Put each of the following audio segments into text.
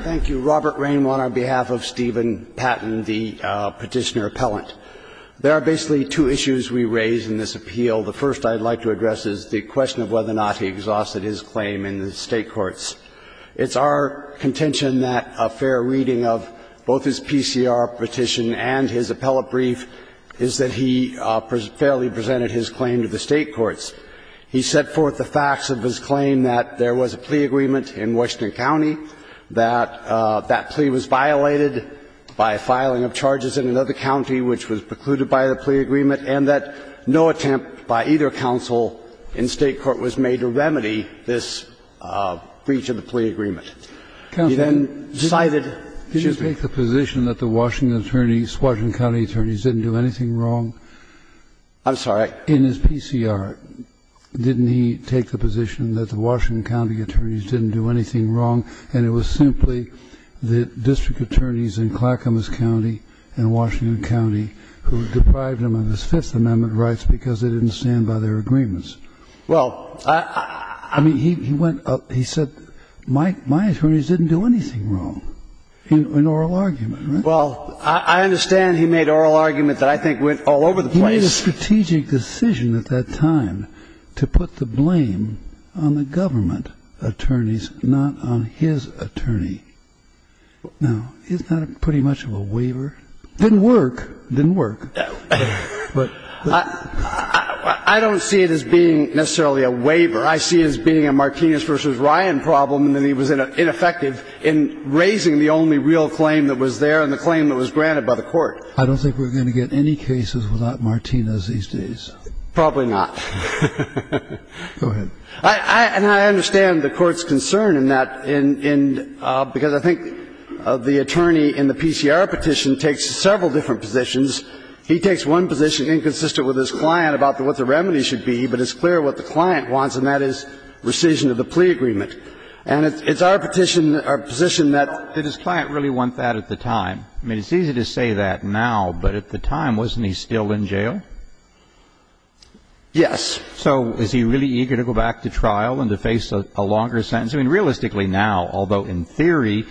Thank you. Robert Rainwan on behalf of Steven Patton, the petitioner appellant. There are basically two issues we raise in this appeal. The first I'd like to address is the question of whether or not he exhausted his claim in the state courts. It's our contention that a fair reading of both his PCR petition and his appellate brief is that he fairly presented his claim to the state courts. He set forth the facts of his claim that there was a plea agreement in Washington County, that that plea was violated by filing of charges in another county which was precluded by the plea agreement, and that no attempt by either counsel in state court was made to remedy this breach of the plea agreement. He then cited Chisholm. Kennedy Did he take the position that the Washington attorneys, Washington County attorneys, didn't do anything wrong? Robert Rainwan I'm sorry? Kennedy In his PCR, didn't he take the position that the Washington County attorneys didn't do anything wrong, and it was simply the district attorneys in Clackamas County and Washington County who deprived him of his Fifth Amendment rights because they didn't stand by their agreements? Robert Rainwan Well, I mean, he went up, he said, my attorneys didn't do anything wrong, in oral argument. Kennedy Well, I understand he made oral argument that I think went all over the place. Robert Rainwan He made a strategic decision at that time to put the blame on the government attorneys, not on his attorney. Now, isn't that pretty much of a waiver? Didn't work. Didn't work. I don't see it as being necessarily a waiver. I see it as being a Martinez v. Ryan problem, and that he was ineffective in raising the only real claim that was there and the claim that was granted by the court. Kennedy I don't think we're going to get any cases without Martinez these days. Robert Rainwan Probably not. Kennedy Go ahead. Robert Rainwan I understand the Court's concern in that, because I think the attorney in the PCR petition takes several different positions. He takes one position inconsistent with his client about what the remedy should be, but it's clear what the client wants, and that is rescission of the plea agreement. And it's our petition, our position that his client really wants that at the time. I mean, it's easy to say that now, but at the time, wasn't he still in jail? Kennedy Yes. Robert Rainwan So is he really eager to go back to trial and to face a longer sentence? I mean, realistically now, although in theory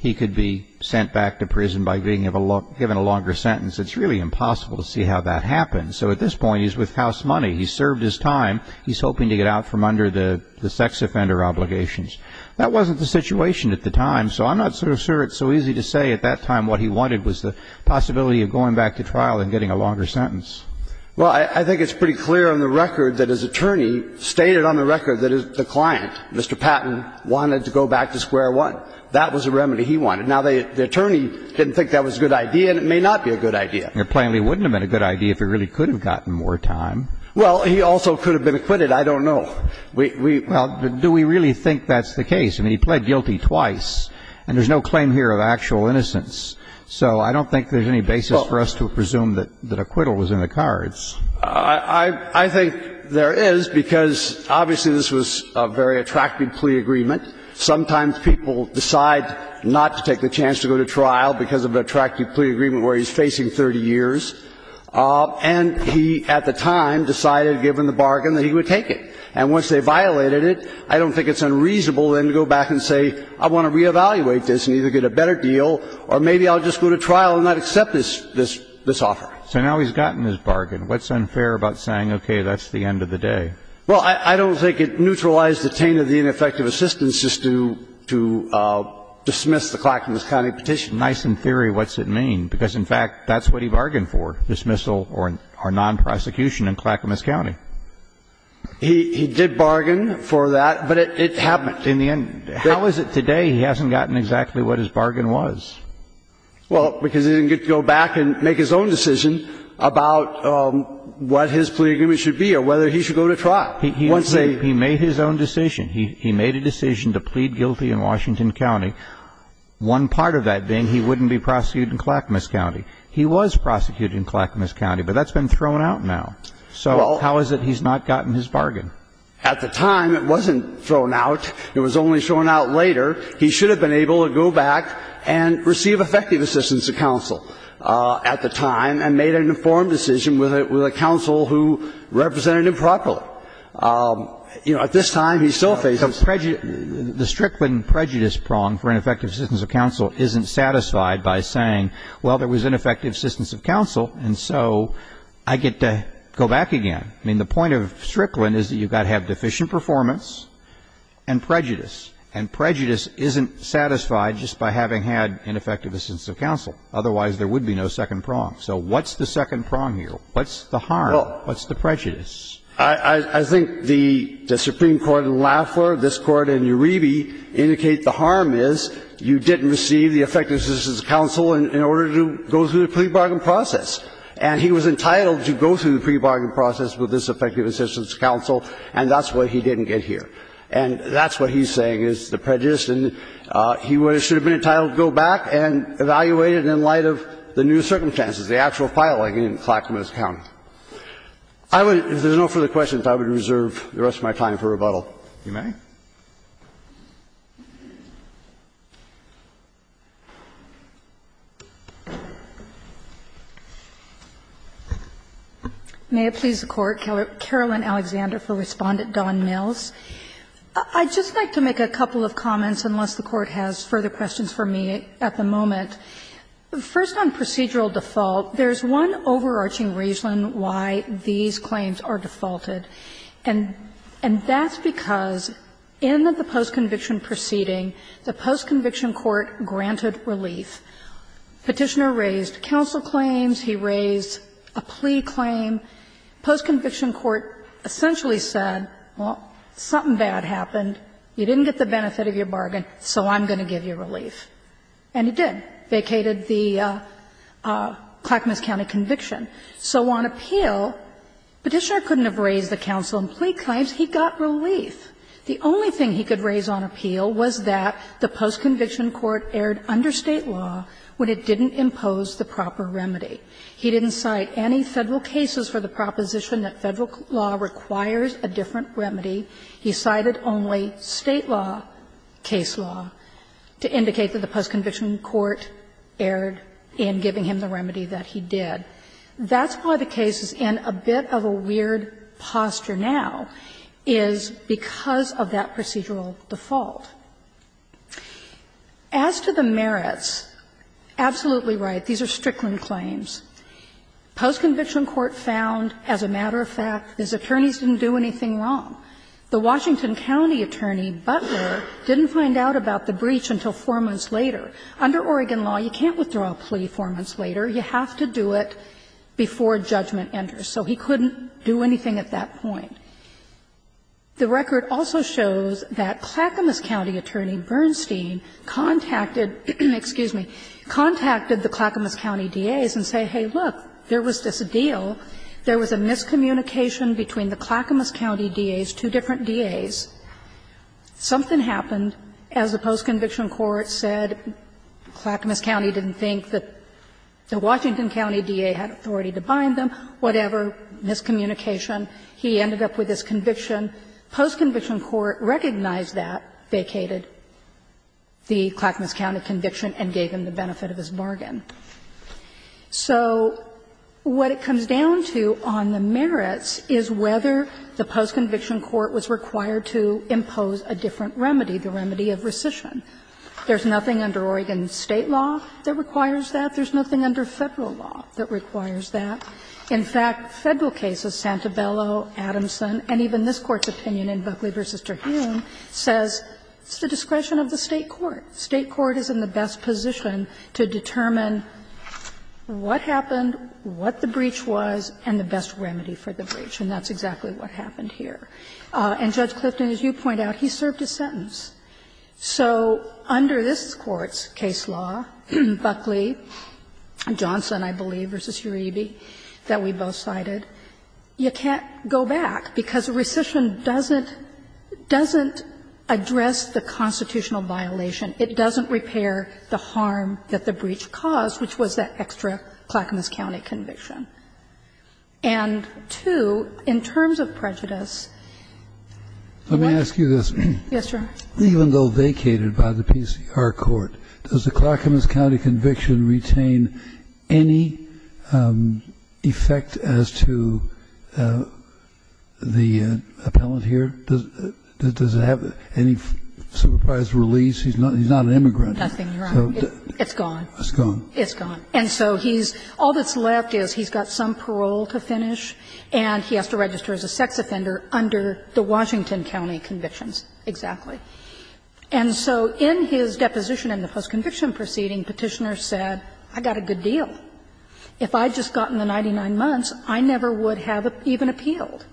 he could be sent back to prison by being given a longer sentence, it's really impossible to see how that happens. So at this point, he's with house money. He's served his time. He's hoping to get out from under the sex offender obligations. That wasn't the situation at the time, so I'm not so sure it's so easy to say at that time what he wanted was the possibility of going back to trial and getting a longer sentence. Kennedy Well, I think it's pretty clear on the record that his attorney stated on the record that the client, Mr. Patton, wanted to go back to square one. That was the remedy he wanted. Now, the attorney didn't think that was a good idea, and it may not be a good idea. Roberts And it plainly wouldn't have been a good idea if he really could have gotten more time. Kennedy Well, he also could have been acquitted. I don't know. We ---- Roberts Well, do we really think that's the case? I mean, he pled guilty twice, and there's no claim here of actual innocence. So I don't think there's any basis for us to presume that acquittal was in the cards. Kennedy I think there is, because obviously this was a very attractive plea agreement. Sometimes people decide not to take the chance to go to trial because of an attractive plea agreement where he's facing 30 years. And he, at the time, decided, given the bargain, that he would take it. And once they violated it, I don't think it's unreasonable then to go back and say, I want to reevaluate this and either get a better deal or maybe I'll just go to trial and not accept this offer. Roberts So now he's gotten his bargain. What's unfair about saying, okay, that's the end of the day? Kennedy Well, I don't think it neutralized the taint of the ineffective assistance just to dismiss the Clackamas County petition. Roberts Nice in theory, what's it mean? Because, in fact, that's what he bargained for, dismissal or non-prosecution in Clackamas County. Kennedy He did bargain for that, but it happened. But in the end, how is it today he hasn't gotten exactly what his bargain was? Roberts Well, because he didn't get to go back and make his own decision about what his plea agreement should be or whether he should go to trial. Kennedy He made his own decision. He made a decision to plead guilty in Washington County, one part of that being he wouldn't be prosecuted in Clackamas County. He was prosecuted in Clackamas County, but that's been thrown out now. So how is it he's not gotten his bargain? Roberts At the time, it wasn't thrown out. It was only thrown out later. He should have been able to go back and receive effective assistance of counsel at the time and made an informed decision with a counsel who represented him properly. You know, at this time, he still faces prejudice. Kennedy The Strickland prejudice prong for ineffective assistance of counsel isn't satisfied by saying, well, there was ineffective assistance of counsel, and so I get to go back again. I mean, the point of Strickland is you've got to have deficient performance and prejudice. And prejudice isn't satisfied just by having had ineffective assistance of counsel. Otherwise, there would be no second prong. So what's the second prong here? What's the harm? What's the prejudice? Roberts I think the Supreme Court in Lafleur, this Court in Uribe indicate the harm is you didn't receive the effective assistance of counsel in order to go through the plea bargain process. And he was entitled to go through the plea bargain process with this effective assistance of counsel, and that's what he didn't get here. And that's what he's saying is the prejudice. And he should have been entitled to go back and evaluate it in light of the new circumstances, the actual filing in Clackamas County. If there's no further questions, I would reserve the rest of my time for rebuttal. If you may. Kagan May it please the Court. Carolyn Alexander for Respondent Don Mills. I'd just like to make a couple of comments, unless the Court has further questions for me at the moment. First, on procedural default, there's one overarching reason why these claims are defaulted. And that's because in the post-conviction proceeding, the post-conviction court granted relief. Petitioner raised counsel claims, he raised a plea claim. Post-conviction court essentially said, well, something bad happened. You didn't get the benefit of your bargain, so I'm going to give you relief. And he did, vacated the Clackamas County conviction. So on appeal, Petitioner couldn't have raised the counsel and plea claims. He got relief. The only thing he could raise on appeal was that the post-conviction court erred under State law when it didn't impose the proper remedy. He didn't cite any Federal cases for the proposition that Federal law requires a different remedy. He cited only State law, case law, to indicate that the post-conviction court erred in giving him the remedy that he did. That's why the case is in a bit of a weird posture now, is because of that procedural default. As to the merits, absolutely right, these are Strickland claims. Post-conviction court found, as a matter of fact, his attorneys didn't do anything wrong. The Washington County attorney, Butler, didn't find out about the breach until 4 months later. Under Oregon law, you can't withdraw a plea 4 months later. You have to do it before judgment enters. So he couldn't do anything at that point. The record also shows that Clackamas County attorney Bernstein contacted, excuse me, contacted the Clackamas County DAs and said, hey, look, there was this deal. There was a miscommunication between the Clackamas County DAs, two different DAs. Something happened. As the post-conviction court said, Clackamas County didn't think that the Washington County DA had authority to bind them. Whatever, miscommunication. He ended up with this conviction. Post-conviction court recognized that, vacated the Clackamas County conviction and gave him the benefit of his bargain. So what it comes down to on the merits is whether the post-conviction court was required to impose a different remedy. The remedy of rescission. There's nothing under Oregon State law that requires that. There's nothing under Federal law that requires that. In fact, Federal cases, Santabello, Adamson, and even this Court's opinion in Buckley v. Terhune says it's the discretion of the State court. State court is in the best position to determine what happened, what the breach was, and the best remedy for the breach. And that's exactly what happened here. And Judge Clifton, as you point out, he served his sentence. So under this Court's case law, Buckley, Johnson, I believe, v. Uribe, that we both cited, you can't go back, because rescission doesn't address the constitutional violation. It doesn't repair the harm that the breach caused, which was that extra Clackamas County conviction. And, two, in terms of prejudice, what's the best remedy for the breach? Let me ask you this. Yes, Your Honor. Even though vacated by the PCR court, does the Clackamas County conviction retain any effect as to the appellant here? Does it have any supervised release? He's not an immigrant. Nothing, Your Honor. It's gone. It's gone. It's gone. And so he's all that's left is he's got some parole to finish, and he has to register as a sex offender under the Washington County convictions, exactly. And so in his deposition in the post-conviction proceeding, Petitioner said, I got a good deal. If I had just gotten the 99 months, I never would have even appealed.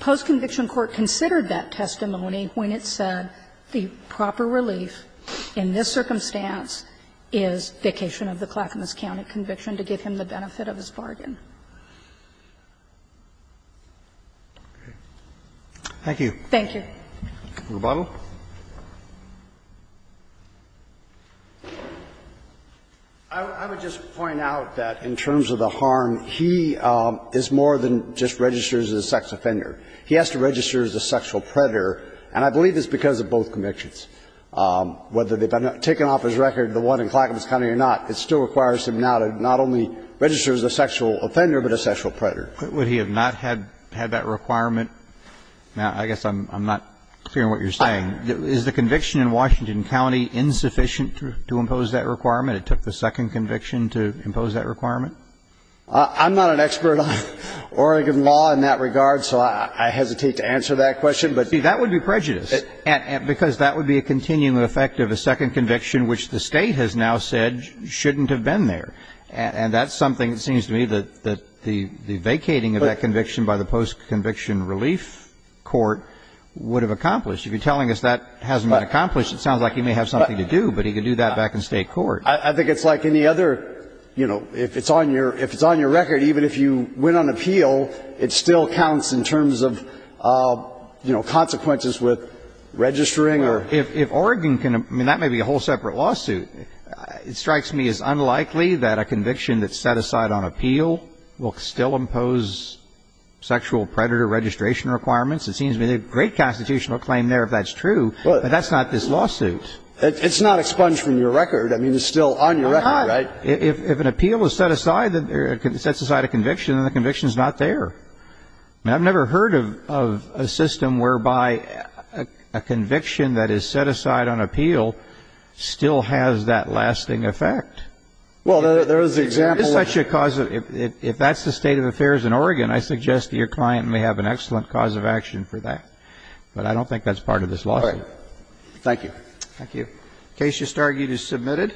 Post-conviction court considered that testimony when it said the proper relief in this circumstance is vacation of the Clackamas County conviction to give him the benefit of his bargain. Thank you. Thank you. Mr. Boehme. I would just point out that in terms of the harm, he is more than just registers as a sex offender. He has to register as a sexual predator, and I believe it's because of both convictions. Whether they've been taken off his record, the one in Clackamas County or not, it still requires him now to not only register as a sexual offender, but a sexual predator. Would he have not had that requirement? Now, I guess I'm not hearing what you're saying. Is the conviction in Washington County insufficient to impose that requirement? It took the second conviction to impose that requirement? I'm not an expert on Oregon law in that regard, so I hesitate to answer that question. But see, that would be prejudice. Because that would be a continuing effect of a second conviction, which the State has now said shouldn't have been there. And that's something, it seems to me, that the vacating of that conviction by the post-conviction relief court would have accomplished. If you're telling us that hasn't been accomplished, it sounds like he may have something to do, but he could do that back in State court. I think it's like any other, you know, if it's on your record, even if you win on appeal, it still counts in terms of, you know, consequences with registering or... If Oregon can, I mean, that may be a whole separate lawsuit. It strikes me as unlikely that a conviction that's set aside on appeal will still impose sexual predator registration requirements. It seems to me there's a great constitutional claim there if that's true, but that's not this lawsuit. It's not expunged from your record. I mean, it's still on your record, right? But if an appeal is set aside, sets aside a conviction, then the conviction is not there. And I've never heard of a system whereby a conviction that is set aside on appeal still has that lasting effect. Well, there is an example... If that's the state of affairs in Oregon, I suggest that your client may have an excellent cause of action for that. But I don't think that's part of this lawsuit. Thank you. Thank you. The case just argued is submitted.